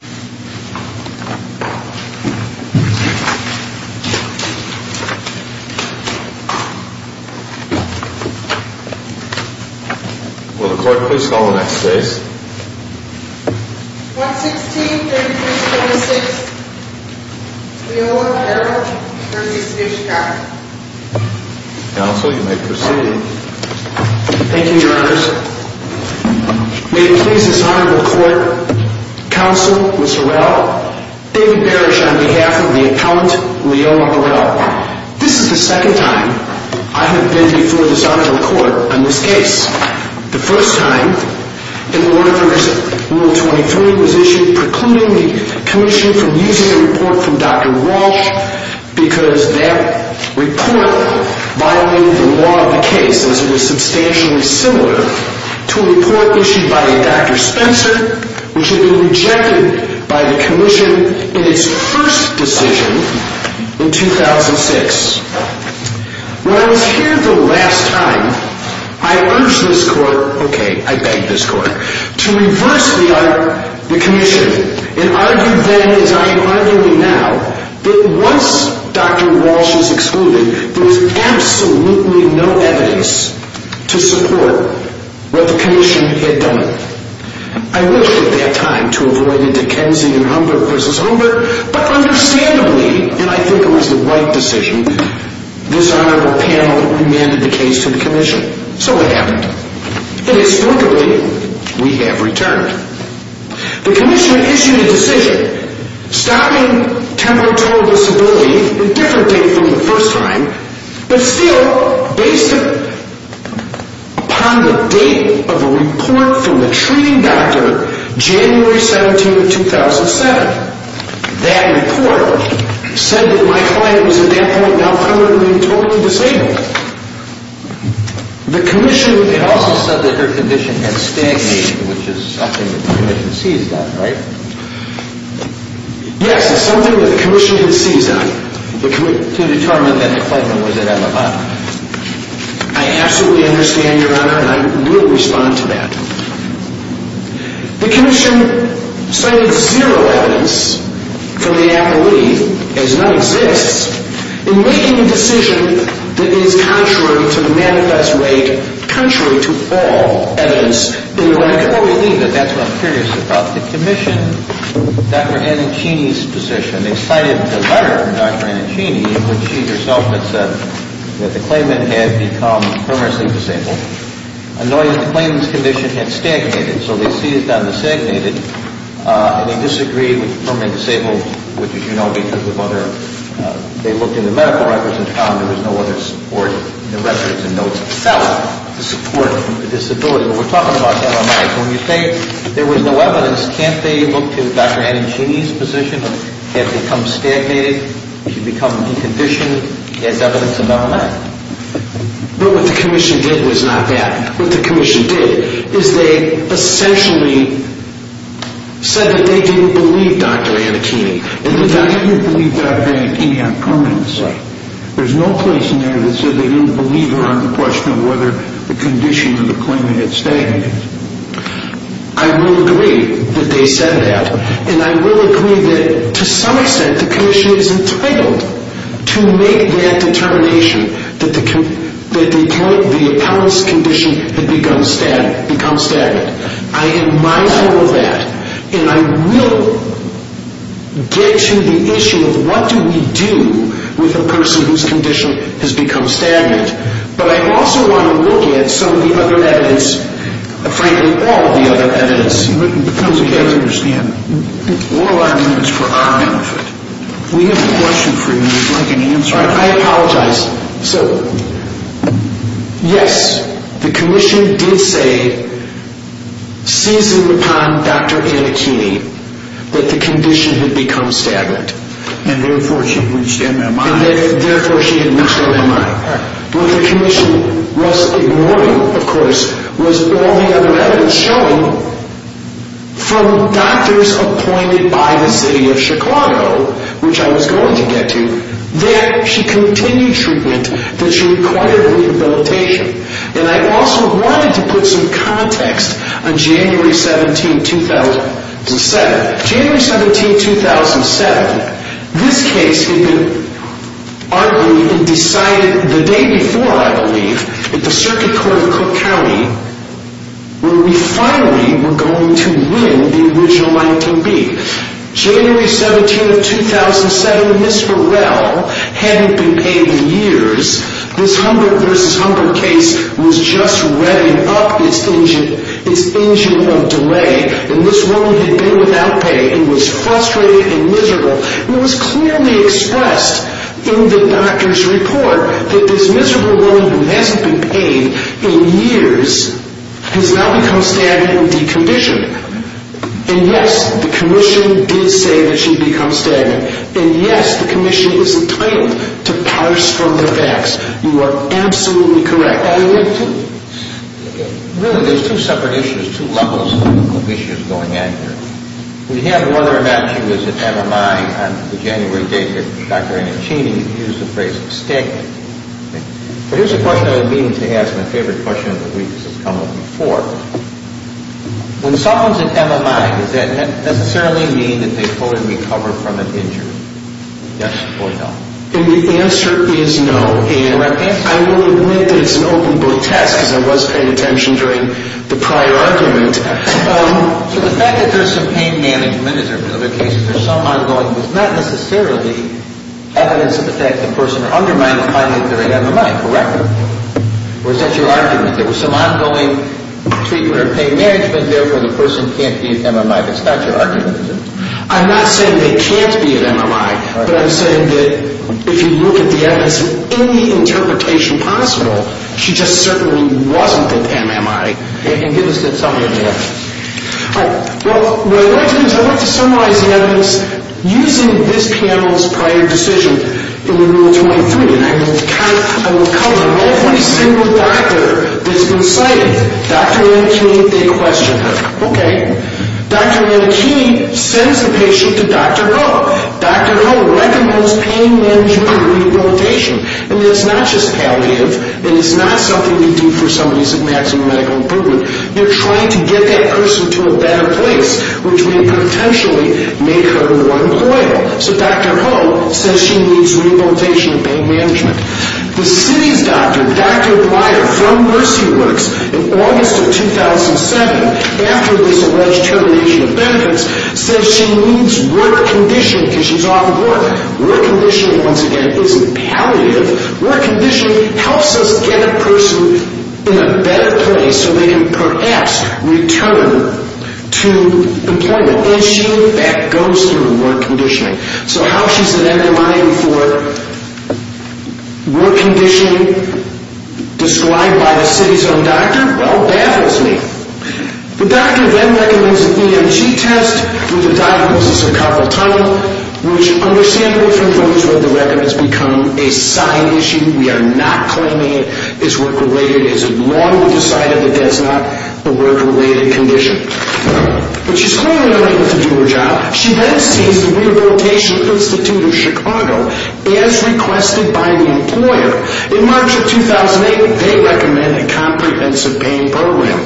July 13th 116346 Leola, Beharrell v. Switchcock Council, you may proceed. Thank you, your Honors. May it please this Honorable Court Counsel, Ms. Harrell, David Berrish, on behalf of the Appellant, Leola, Beharrell. This is the second time I have been before this Honorable Court on this case. The first time, an order under Rule 23 was issued precluding the Commission from using a report from Dr. Walsh because that report violated the law of the case, as it is substantially similar to a report issued by Dr. Spencer, which had been rejected by the Commission in its first decision in 2006. When I was here the last time, I urged this Court, okay, I begged this Court, to reverse the Commission and argue then, as I am arguing now, that once Dr. Walsh is excluded, there will be no report, what the Commission had done. I wished at that time to avoid a Dickensian Humber v. Humber, but understandably, and I think it was the right decision, this Honorable Panel remanded the case to the Commission. So what happened? And historically, we have returned. The Commission had issued a decision stopping temporal total disability, indifferently from the first time, but still, based upon the date of a report from the treating doctor, January 17, 2007, that report said that my client was at that point, now, 100 and being totally disabled. The Commission had also said that her condition had stagnated, which is something that the Commission sees that, right? Yes, it's something that the Commission sees that. I absolutely understand, Your Honor, and I will respond to that. The Commission cited zero evidence from the appellee, as none exists, in making a decision that is contrary to the manifest rate, contrary to all evidence in the record. Well, believe it, that's what I'm curious about. The Commission, Dr. Anicini's position, they cited the letter from Dr. Anicini in which she herself had said that the claimant had become permanently disabled, and knowing that the claimant's condition had stagnated, so they seized on the stagnated, and they disagreed with the permanently disabled, which, as you know, because of other, they looked in the medical records and found there was no other support in the records and notes itself to support the disability. Well, we're talking about MRIs. When you say there was no evidence, can't they look to Dr. Anicini's position of, has it become stagnated, has she become deconditioned? Is evidence available on that? But what the Commission did was not that. What the Commission did is they essentially said that they didn't believe Dr. Anicini. And the document believed Dr. Anicini on permanency. There's no place in there that said they didn't believe her on the question of whether the condition of the claimant had stagnated. I will agree that they said that, and I will agree that to some extent the Commission is entitled to make that determination that the appellant's condition had become stagnant. I am mindful of that, and I will get to the issue of what do we do with a person whose has some of the other evidence, frankly all of the other evidence. Because we don't understand. All our evidence for our benefit. We have a question for you if you'd like an answer. I apologize. So, yes, the Commission did say, seasoned upon Dr. Anicini, that the condition had become stagnant. And therefore she had reached MMI. And therefore she had reached MMI. What the Commission was ignoring, of course, was all the other evidence showing from doctors appointed by the city of Chicago, which I was going to get to, that she continued treatment, that she required rehabilitation. And I also wanted to put some context on January 17, 2007. January 17, 2007, this case had been argued and decided the day before, I believe, at the Circuit Court of Cook County, where we finally were going to win the original 19B. January 17, 2007, Ms. Burrell hadn't been paid in years. This Humbert v. Humbert case was just revving up its engine of delay. And this woman had been without pay and was frustrated and miserable. And it was clearly expressed in the doctor's report that this miserable woman who hasn't been paid in years has now become stagnant and deconditioned. And, yes, the Commission did say that she had become stagnant. And, yes, the Commission is entitled to parse from the facts. You are absolutely correct. Really, there's two separate issues, two levels of issues going on here. We had whether or not she was at MMI on the January date that Dr. Annachini used the phrase stagnant. But here's a question I've been meaning to ask and a favorite question of the week that's come up before. When someone's at MMI, does that necessarily mean that they fully recover from an injury? Yes or no? And the answer is no. And I will admit that it's an open book test because I was paying attention during the prior argument. So the fact that there's some pain management, as there have been other cases, there's some ongoing, was not necessarily evidence of the fact that the person undermined the climate during MMI, correct? Or is that your argument? There was some ongoing treatment or pain management. Therefore, the person can't be at MMI. That's not your argument, is it? I'm not saying they can't be at MMI. But I'm saying that if you look at the evidence in any interpretation possible, she just certainly wasn't at MMI. And give us that summary of the evidence. Well, what I'd like to do is I'd like to summarize the evidence using this panel's prior decision in Rule 23. And I will cover every single doctor that's been cited. Dr. Annachini, they questioned her. Okay. Dr. Annachini sends a patient to Dr. Ho. Dr. Ho recommends pain management and rehabilitation. And it's not just palliative. And it's not something you do for somebody who's at maximum medical improvement. You're trying to get that person to a better place, which may potentially make her more employable. So Dr. Ho says she needs rehabilitation and pain management. The city's doctor, Dr. Breyer from Mercy Works, in August of 2007, after this alleged termination of benefits, says she needs work conditioning because she's off of work. Work conditioning, once again, isn't palliative. Work conditioning helps us get a person in a better place so they can perhaps return to employment. And she, in fact, goes through work conditioning. So how she's an enemy for work conditioning described by the city's own doctor, well, baffles me. The doctor then recommends an EMG test for the diagnosis of carpal tunnel, which, understandable from those who have the record, has become a side issue. We are not claiming it is work-related. It's a law to decide if it is not a work-related condition. But she's clearly not able to do her job. She then sees the Rehabilitation Institute of Chicago as requested by the employer. In March of 2008, they recommend a comprehensive pain program.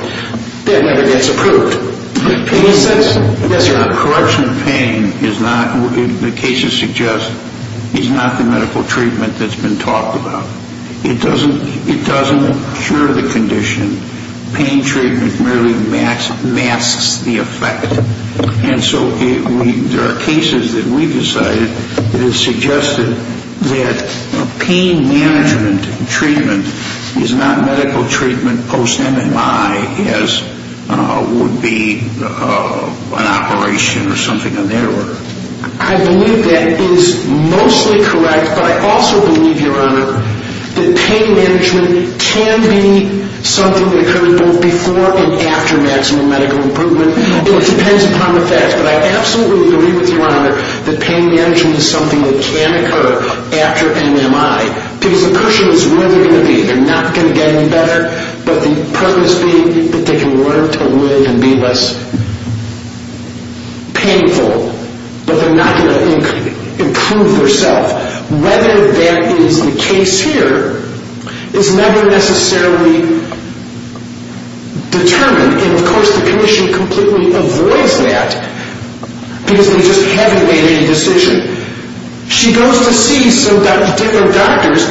That never gets approved. And he says, yes or no? Corruption of pain is not, the cases suggest, is not the medical treatment that's been talked about. It doesn't cure the condition. Pain treatment merely masks the effect. And so there are cases that we've decided that have suggested that pain management treatment is not medical treatment post-MMI as would be an operation or something of that order. I believe that is mostly correct. But I also believe, Your Honor, that pain management can be something that occurs both before and after maximum medical improvement. It depends upon the facts. But I absolutely agree with you, Your Honor, that pain management is something that can occur after MMI. Because the question is where they're going to be. They're not going to get any better. But the premise being that they can learn to live and be less painful. But they're not going to improve their self. Whether that is the case here is never necessarily determined. And of course the Commission completely avoids that. Because they just haven't made any decision. She goes to see some different doctors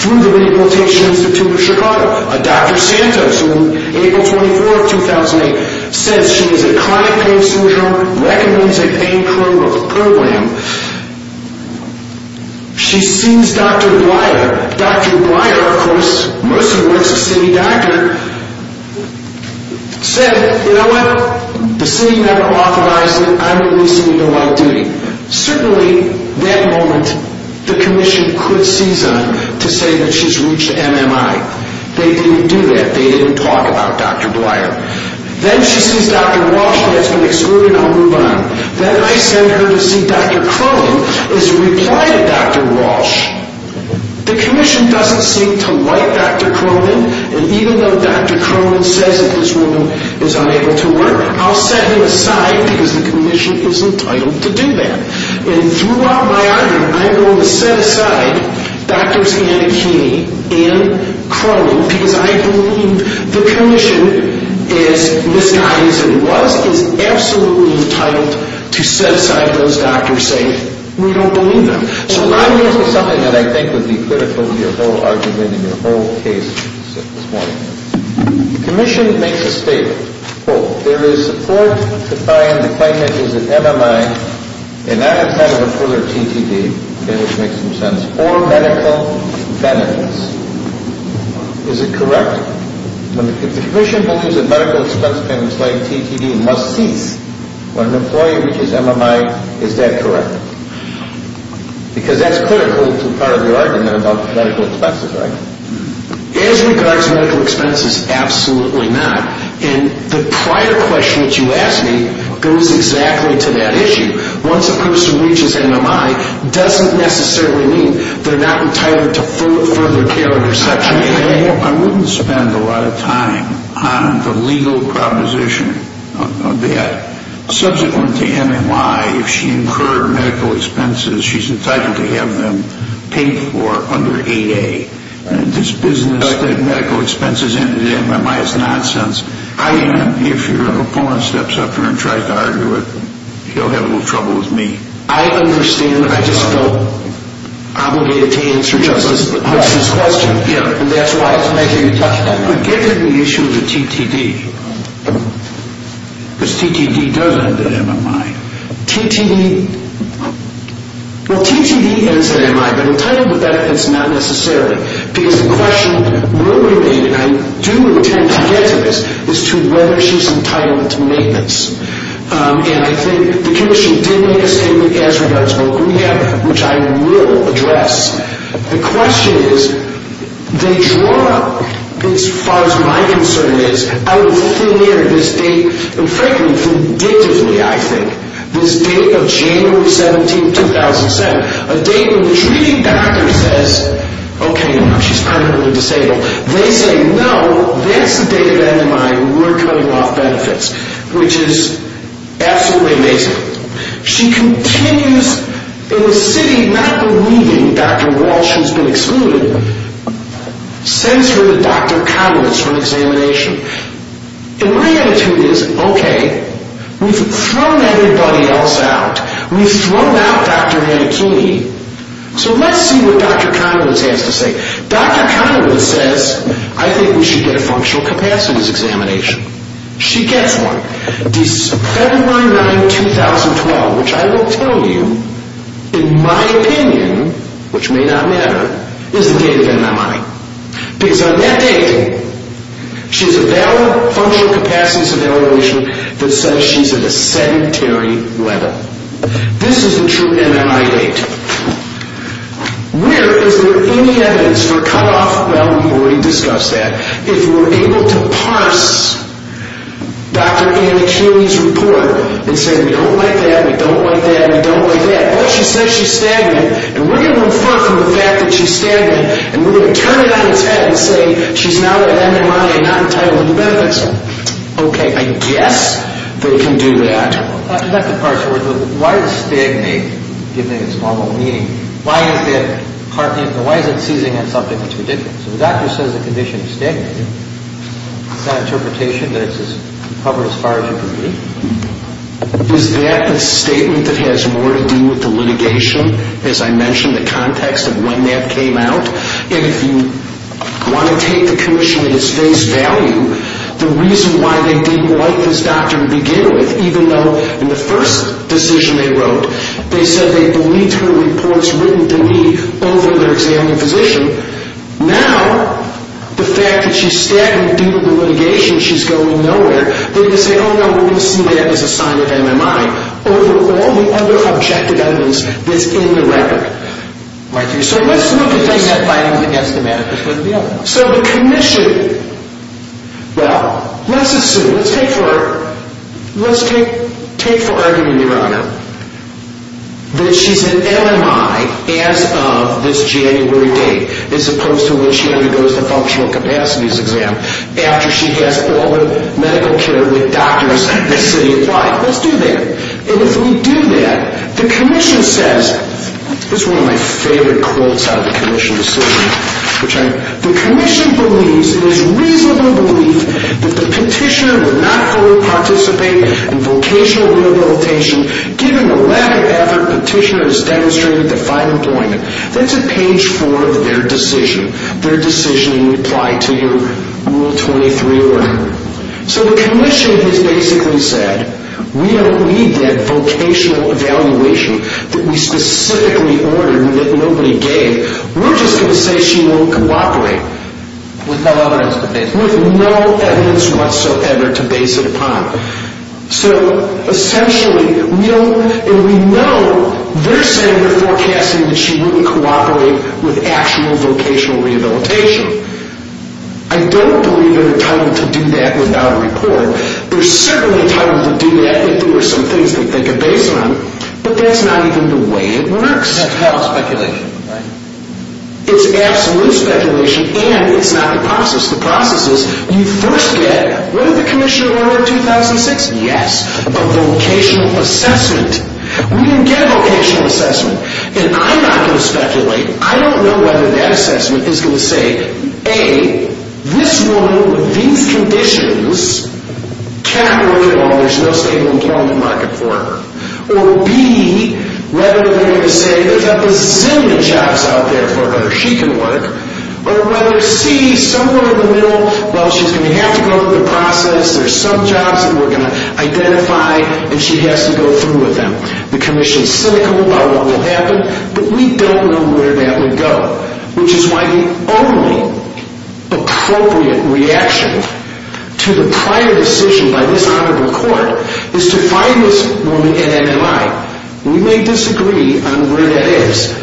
through the Rehabilitation Institute of Chicago. Dr. Santos, who on April 24, 2008, says she is a chronic pain surgeon, recommends a pain program. She sees Dr. Breyer. Dr. Breyer, of course, mostly was a city doctor, said, you know what? The city never authorized it. I'm releasing you to while duty. Certainly, that moment, the Commission quit season to say that she's reached MMI. They didn't do that. They didn't talk about Dr. Breyer. Then she sees Dr. Walsh, who has been excluded, and I'll move on. Then I send her to see Dr. Crone, who has replied to Dr. Walsh. The Commission doesn't seem to like Dr. Crone. And even though Dr. Crone says that this woman is unable to work, I'll set him aside because the Commission is entitled to do that. And throughout my argument, I'm going to set aside Drs. Anakini and Crone because I believe the Commission, as misguided as it was, is absolutely entitled to set aside those doctors saying we don't believe them. So I'm going to say something that I think would be critical to your whole argument and your whole case this morning. The Commission makes a statement. Quote, there is support to find the claimant is at MMI and not in front of a fuller TTD, which makes some sense, or medical benefits. Is it correct? If the Commission believes that medical expense payments like TTD must cease when an employee reaches MMI, is that correct? Because that's critical to part of your argument about medical expenses, right? As regards medical expenses, absolutely not. And the prior question that you asked me goes exactly to that issue. Once a person reaches MMI, it doesn't necessarily mean they're not retired to further care or reception. I wouldn't spend a lot of time on the legal proposition of that. Subsequent to MMI, if she incurred medical expenses, she's entitled to have them paid for under 8A. This business of medical expenses and MMI is nonsense. I am, if your opponent steps up here and tries to argue it, you'll have a little trouble with me. I understand that I just feel obligated to answer Justice Hudson's question, and that's why. But given the issue of the TTD, because TTD does end at MMI, TTD ends at MMI, but entitled to medical expense, not necessarily. Because the question will remain, and I do intend to get to this, as to whether she's entitled to maintenance. And I think the Commission did make a statement as regards vocal rehab, which I will address. The question is, they draw up, as far as my concern is, out of thin air this date, and frankly, vindictively, I think, this date of January 17, 2007, a date when the treating doctor says, okay, now she's permanently disabled. They say, no, that's the date of MMI, we're cutting off benefits, which is absolutely amazing. She continues, in the city, not believing Dr. Walsh has been excluded, sends her to Dr. Conowitz for an examination. And my attitude is, okay, we've thrown everybody else out. We've thrown out Dr. Mancini. So let's see what Dr. Conowitz has to say. Dr. Conowitz says, I think we should get a functional capacities examination. She gets one. December 9, 2012, which I will tell you, in my opinion, which may not matter, is the date of MMI. Because on that date, she has a valid functional capacities evaluation that says she's at a sedentary level. This is a true MMI date. Where is there any evidence for cutoff? Well, we've already discussed that. If we're able to parse Dr. Ann Akili's report and say, we don't like that, we don't like that, we don't like that, but she says she's stagnant, and we're going to infer from the fact that she's stagnant, and we're going to turn it on its head and say she's now at MMI and not entitled to the benefits. Okay, I guess they can do that. Why is stagnate, given its normal meaning, why is it seizing on something that's ridiculous? So the doctor says the condition is stagnant. Is that an interpretation that it's covered as far as you can read? Is that a statement that has more to do with the litigation, as I mentioned, the context of when that came out? And if you want to take the commission at its face value, the reason why they didn't like this doctor to begin with, even though in the first decision they wrote, they said they believed her report was written to me over their examining physician, now, the fact that she's stagnant due to the litigation, she's going nowhere, they're going to say, oh, no, we're going to see that as a sign of MMI over all the other objective evidence that's in the record. So let's look at this. So the commission, well, let's assume. Let's take for argument, Your Honor, that she's in MMI as of this January date, as opposed to when she undergoes the functional capacities exam after she has all the medical care with doctors in the city applied. Let's do that. And if we do that, the commission says, this is one of my favorite quotes out of the commission The commission believes, it is reasonable belief, that the petitioner would not fully participate in vocational rehabilitation given the lack of effort the petitioner has demonstrated to find employment. That's at page four of their decision, their decision in reply to your Rule 23 order. So the commission has basically said, we don't need that vocational evaluation that we specifically ordered and that nobody gave. We're just going to say she won't cooperate with no evidence whatsoever to base it upon. So essentially, we know they're saying they're forecasting that she won't cooperate with actual vocational rehabilitation. I don't believe they're entitled to do that without a report. They're certainly entitled to do that if there were some things they could base it on. But that's not even the way it works. That's hell of speculation. It's absolute speculation and it's not the process. The process is, you first get, what did the commissioner order in 2006? Yes, a vocational assessment. We didn't get a vocational assessment. And I'm not going to speculate. I don't know whether that assessment is going to say, A, this woman with these conditions cannot work at all. There's no stable employment market for her. Or B, whether they're going to say there's a bazillion jobs out there for her. She can work. Or whether C, somewhere in the middle, well, she's going to have to go through the process. There's some jobs that we're going to identify and she has to go through with them. The commission is cynical about what will happen, but we don't know where that would go. Which is why the only appropriate reaction to the prior decision by this Honorable Court is to find this woman at NMI. We may disagree on where that is.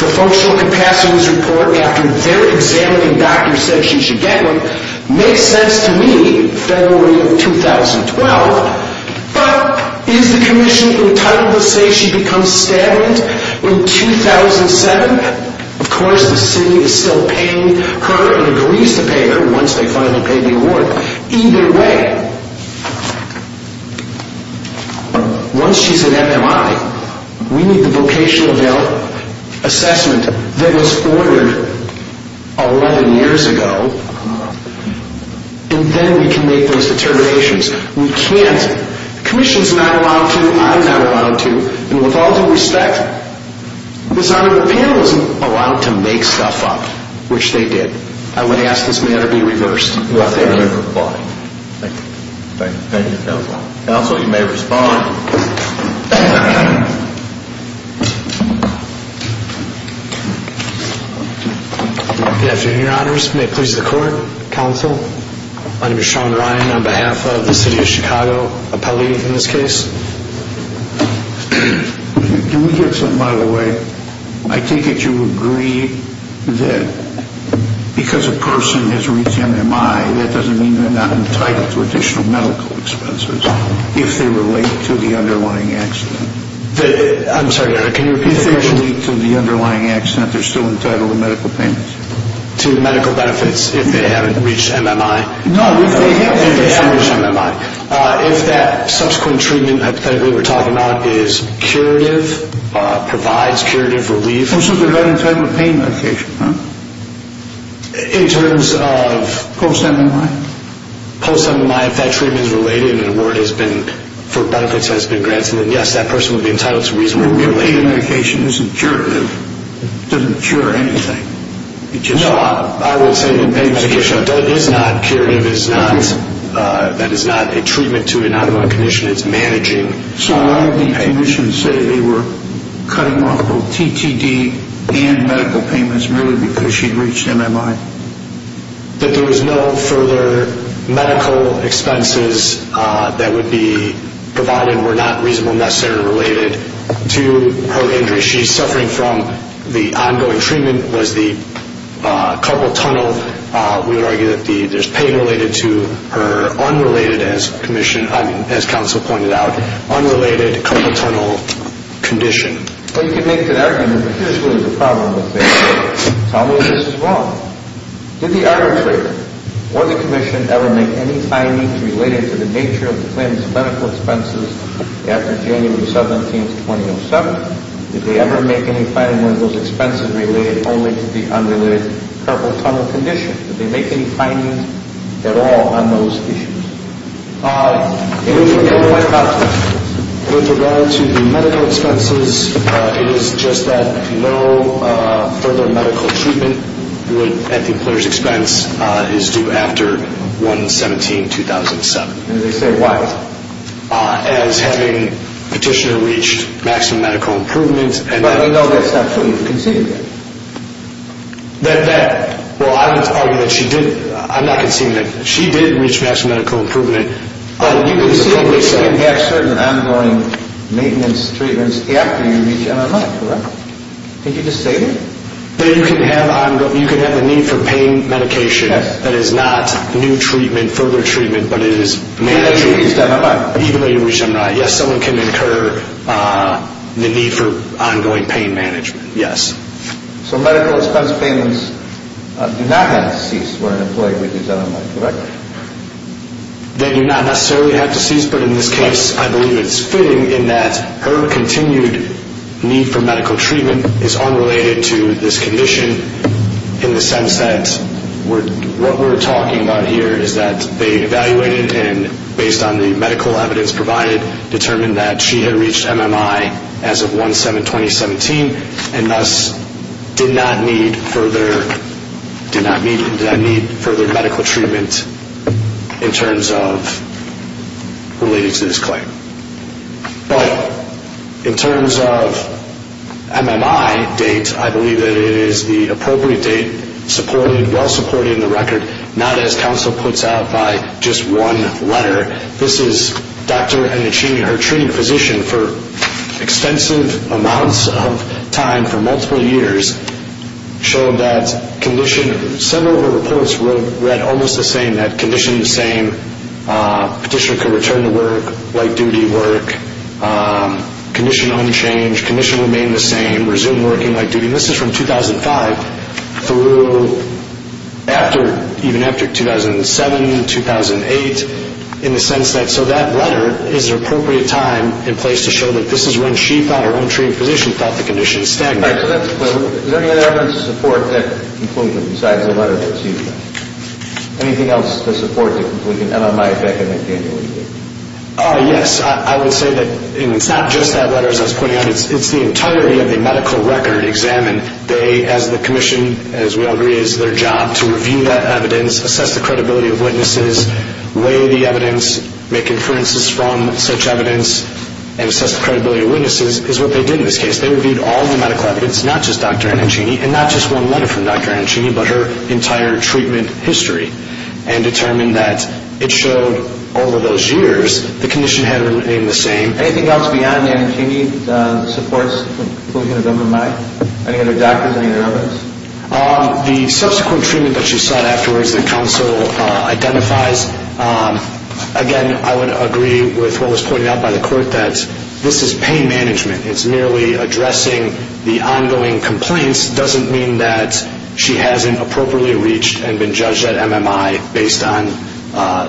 The Vocational Capacities Report, after their examining doctor said she should get one, makes sense to me, February of 2012. But is the commission entitled to say she becomes stable in 2007? Of course the city is still paying her and agrees to pay her once they finally pay the award. Either way, once she's at NMI, we need the vocational assessment that was ordered 11 years ago. And then we can make those determinations. We can't. The commission's not allowed to, I'm not allowed to, and with all due respect, this Honorable panel isn't allowed to make stuff up, which they did. I would ask this matter be reversed. Let them reply. Thank you. Thank you, Counsel. Counsel, you may respond. Good afternoon, Your Honors. May it please the Court, Counsel. My name is Sean Ryan on behalf of the City of Chicago, a police in this case. Can we get something out of the way? I take it you agree that because a person has reached NMI, that doesn't mean they're not entitled to additional medical expenses if they relate to the underlying accident. I'm sorry, Your Honor, can you repeat the question? If they relate to the underlying accident, they're still entitled to medical payments. To medical benefits if they haven't reached NMI. No, if they have reached NMI. If that subsequent treatment, hypothetically, we're talking about is curative, provides curative relief. This is regarding pain medication, huh? In terms of? Post-NMI. Post-NMI, if that treatment is related and an award for benefits has been granted, then, yes, that person would be entitled to reasonable relief. If pain medication isn't curative, doesn't cure anything. No, I will say that pain medication is not curative. That is not a treatment to an ongoing condition. It's managing pain. So why would the condition say they were cutting off both TTD and medical payments merely because she'd reached NMI? That there was no further medical expenses that would be provided were not reasonable necessarily related to her injury. If she's suffering from the ongoing treatment, was the carpal tunnel, we would argue that there's pain related to her unrelated, as counsel pointed out, unrelated carpal tunnel condition. Well, you can make that argument, but here's really the problem with this. Tell me this is wrong. Did the arbitrator or the commission ever make any findings related to the nature of the claimant's medical expenses after January 17, 2007? Did they ever make any findings on those expenses related only to the unrelated carpal tunnel condition? Did they make any findings at all on those issues? In regard to the medical expenses, it is just that no further medical treatment at the employer's expense is due after 1-17-2007. And they say why? As having petitioner reached maximum medical improvement. But you know that's not true. You've conceded that. That, well, I would argue that she did. I'm not conceding that she did reach maximum medical improvement. You conceded that she didn't have certain ongoing maintenance treatments after you reached NMI, correct? Did you just state it? That you can have the need for pain medication that is not new treatment, further treatment, but it is managed. Even though you reached NMI. Even though you reached NMI. Yes, someone can incur the need for ongoing pain management, yes. So medical expense payments do not have to cease where an employee reaches NMI, correct? They do not necessarily have to cease, but in this case I believe it's fitting in that her continued need for medical treatment is unrelated to this condition in the sense that what we're talking about here is that they evaluated and based on the medical evidence provided determined that she had reached NMI as of 1-7-2017 and thus did not need further medical treatment in terms of related to this claim. But in terms of NMI date, I believe that it is the appropriate date supported, well supported in the record, not as counsel puts out by just one letter. This is Dr. Enichini, her treating physician, for extensive amounts of time, for multiple years, showed that condition, several of her reports read almost the same, that condition the same, petitioner could return to work, light duty work, condition unchanged, condition remained the same, resumed working light duty. And this is from 2005 through after, even after 2007, 2008, in the sense that, so that letter is an appropriate time and place to show that this is when she thought, her own treating physician thought the condition stagnated. All right, so that's clear. Is there any other evidence to support that conclusion besides the letter that's used now? Anything else to support the conclusion, NMI, Beck and McDaniel? Yes, I would say that it's not just that letter, as I was pointing out, it's the entirety of the medical record examined. They, as the commission, as we all agree, it is their job to review that evidence, assess the credibility of witnesses, weigh the evidence, make inferences from such evidence, and assess the credibility of witnesses, is what they did in this case. They reviewed all the medical evidence, not just Dr. Annanchini, and not just one letter from Dr. Annanchini, but her entire treatment history, and determined that it showed all of those years the condition had remained the same. Anything else beyond Annanchini that supports the conclusion of NMI? Any other doctors, any other evidence? The subsequent treatment that she sought afterwards that counsel identifies, again, I would agree with what was pointed out by the court, that this is pain management. It's merely addressing the ongoing complaints doesn't mean that she hasn't appropriately reached and been judged at NMI based on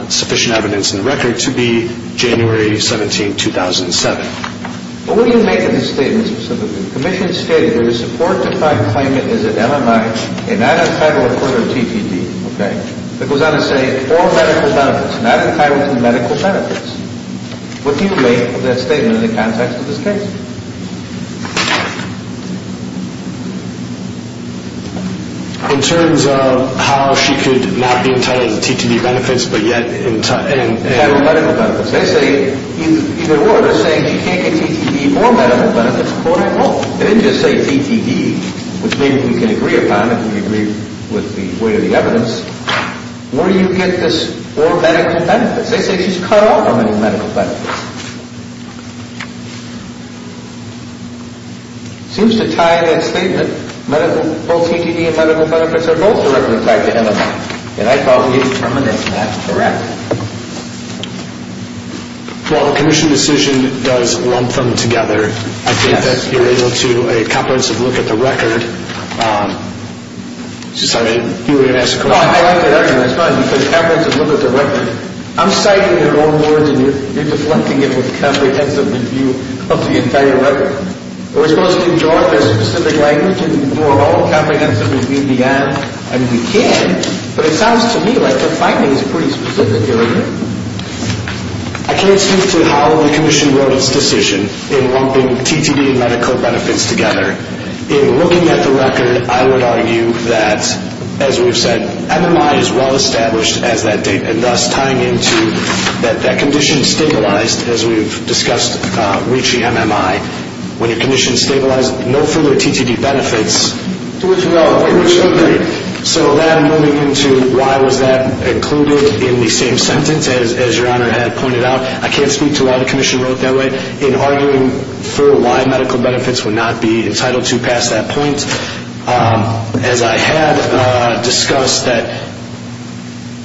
sufficient evidence in the record to be January 17, 2007. But what do you make of the statement, specifically, the commission's statement where the support defined claimant is at NMI, and not at federal court or TPD, okay, that goes on to say all medical benefits, not entitled to medical benefits. What do you make of that statement in the context of this case? In terms of how she could not be entitled to TPD benefits, but yet entitled to medical benefits. They say either or. They're saying she can't get TPD or medical benefits, or they won't. They didn't just say TPD, which maybe we can agree upon if we agree with the weight of the evidence. Where do you get this or medical benefits? They say she's cut off from any medical benefits. Seems to tie that statement, both TPD and medical benefits are both directly tied to NMI. And I thought you'd terminate that. Correct. Well, the commission decision does lump them together. I think that you're able to a comprehensive look at the record. Sorry, you were going to ask a question. Well, I like that argument. It's fun because it happens to look at the record. I'm citing their own words, and you're deflecting it with a comprehensive review of the entire record. Are we supposed to enjoy their specific language and do our own comprehensive review beyond? I mean, we can, but it sounds to me like the finding is pretty specific. I can't speak to how the commission wrote its decision in lumping TPD and medical benefits together. In looking at the record, I would argue that, as we've said, NMI is well-established as that date, and thus tying into that condition stabilized, as we've discussed, reaching NMI. When your condition is stabilized, no further TPD benefits. So then moving into why was that included in the same sentence, as your Honor had pointed out, I can't speak to how the commission wrote it that way. In arguing for why medical benefits would not be entitled to pass that point, as I had discussed that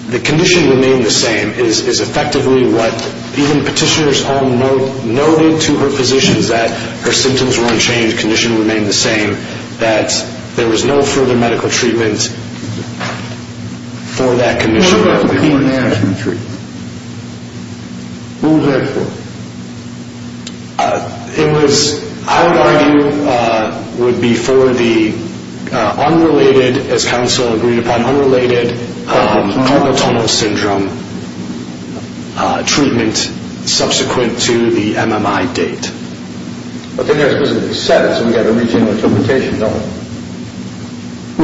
the condition remained the same is effectively what even petitioners all noted to her physicians that her symptoms were unchanged, condition remained the same, that there was no further medical treatment for that condition. What about the pain management treatment? What was that for? It was, I would argue, would be for the unrelated, as counsel agreed upon, unrelated carpal tunnel syndrome treatment subsequent to the NMI date. But then there's a specific sentence, and we've got to reach in with a limitation, don't we?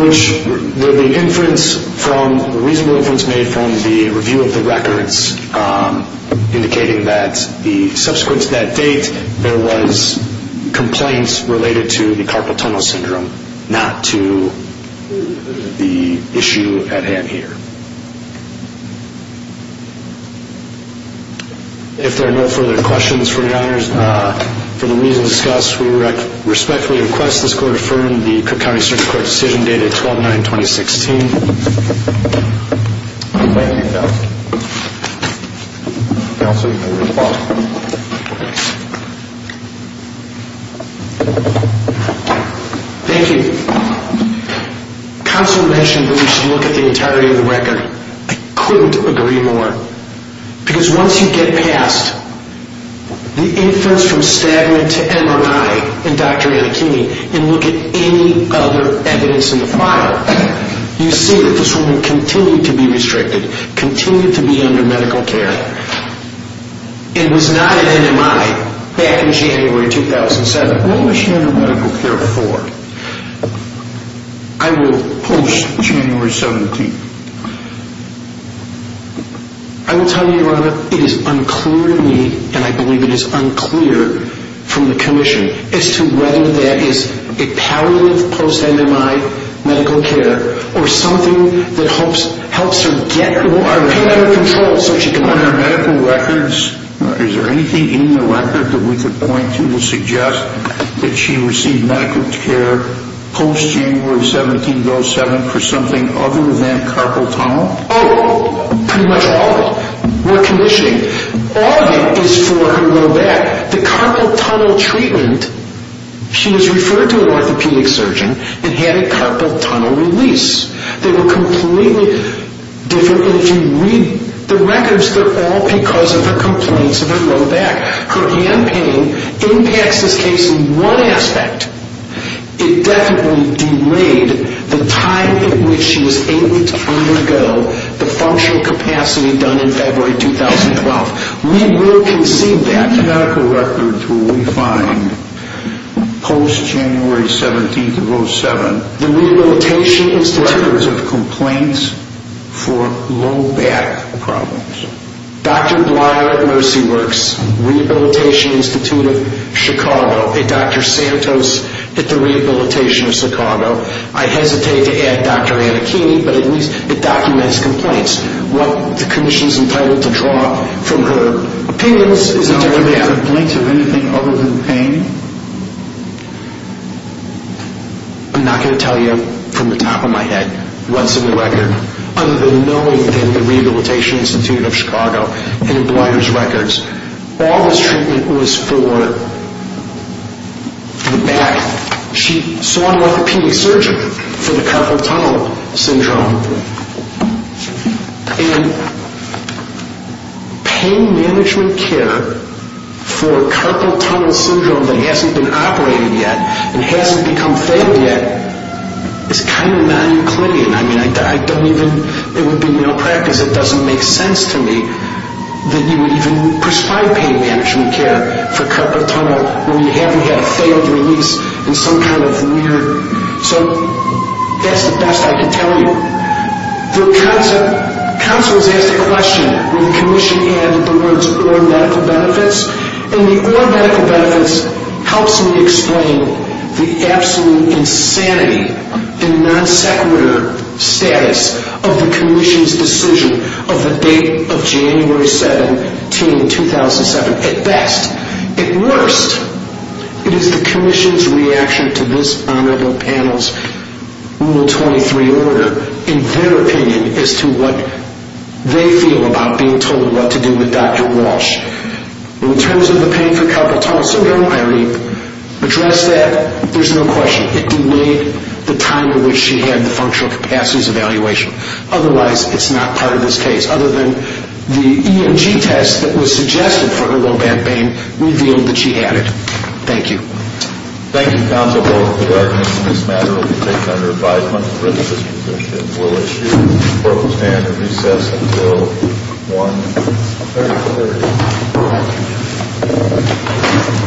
Which the inference from, the reasonable inference made from the review of the records, indicating that the subsequent to that date, there was complaints related to the carpal tunnel syndrome, not to the issue at hand here. If there are no further questions for your Honors, for the reason discussed, we respectfully request this Court affirm the Cook County Circuit Court decision dated 12-9-2016. Thank you. Counsel mentioned that we should look at the entirety of the record. I couldn't agree more. Because once you get past the inference from stagnant to NMI in Dr. Anna Kinney, and look at any other evidence in the file, you see that this woman continued to be restricted, continued to be under medical care, and was not at NMI back in January 2007. When was she under medical care before? I will post January 17th. I will tell you, Your Honor, it is unclear to me, and I believe it is unclear from the Commission, as to whether that is a palliative post-NMI medical care, or something that helps her get more out of control so she can learn. On her medical records, is there anything in the record that we could point to to suggest that she received medical care post-January 17, 2007, for something other than carpal tunnel? Oh, pretty much all of them. What commissioning? All of it is for her low back. The carpal tunnel treatment, she was referred to an orthopedic surgeon and had a carpal tunnel release. They were completely different, and if you read the records, they're all because of her complaints of her low back. Her hand pain impacts this case in one aspect. It definitely delayed the time in which she was able to undergo the functional capacity done in February 2012. We will concede that. What medical records will we find post-January 17, 2007? The Rehabilitation Institute. Records of complaints for low back problems. Dr. Bleier at Mercy Works, Rehabilitation Institute of Chicago, and Dr. Santos at the Rehabilitation Institute of Chicago. I hesitate to add Dr. Anakini, but at least it documents complaints. What the commission is entitled to draw from her opinions is a document. Are there any complaints of anything other than pain? I'm not going to tell you from the top of my head, once in the record, other than knowing that the Rehabilitation Institute of Chicago and in Bleier's records, all this treatment was for the back. She saw an orthopedic surgeon for the carpal tunnel syndrome, and pain management care for carpal tunnel syndrome that hasn't been operated yet and hasn't become fed yet is kind of non-Euclidean. I mean, I don't even, it would be malpractice, it doesn't make sense to me, that you would even prescribe pain management care for carpal tunnel when you haven't had a failed release in some kind of weird. So, that's the best I can tell you. The council has asked a question, when the commission added the words, or medical benefits, and the or medical benefits helps me explain the absolute insanity and non-sequitur status of the commission's decision of the date of January 17, 2007. At best, at worst, it is the commission's reaction to this honorable panel's Rule 23 order and their opinion as to what they feel about being told what to do with Dr. Walsh. In terms of the pain for carpal tunnel syndrome, I read, address that, there's no question. It delayed the time in which she had the functional capacities evaluation. Otherwise, it's not part of this case. Other than the EMG test that was suggested for her low back pain revealed that she had it. Thank you. Thank you, counsel. The argument in this matter will be taken under five months' writ of this commission. We'll issue the clerk will stand and recess until 1-30-30.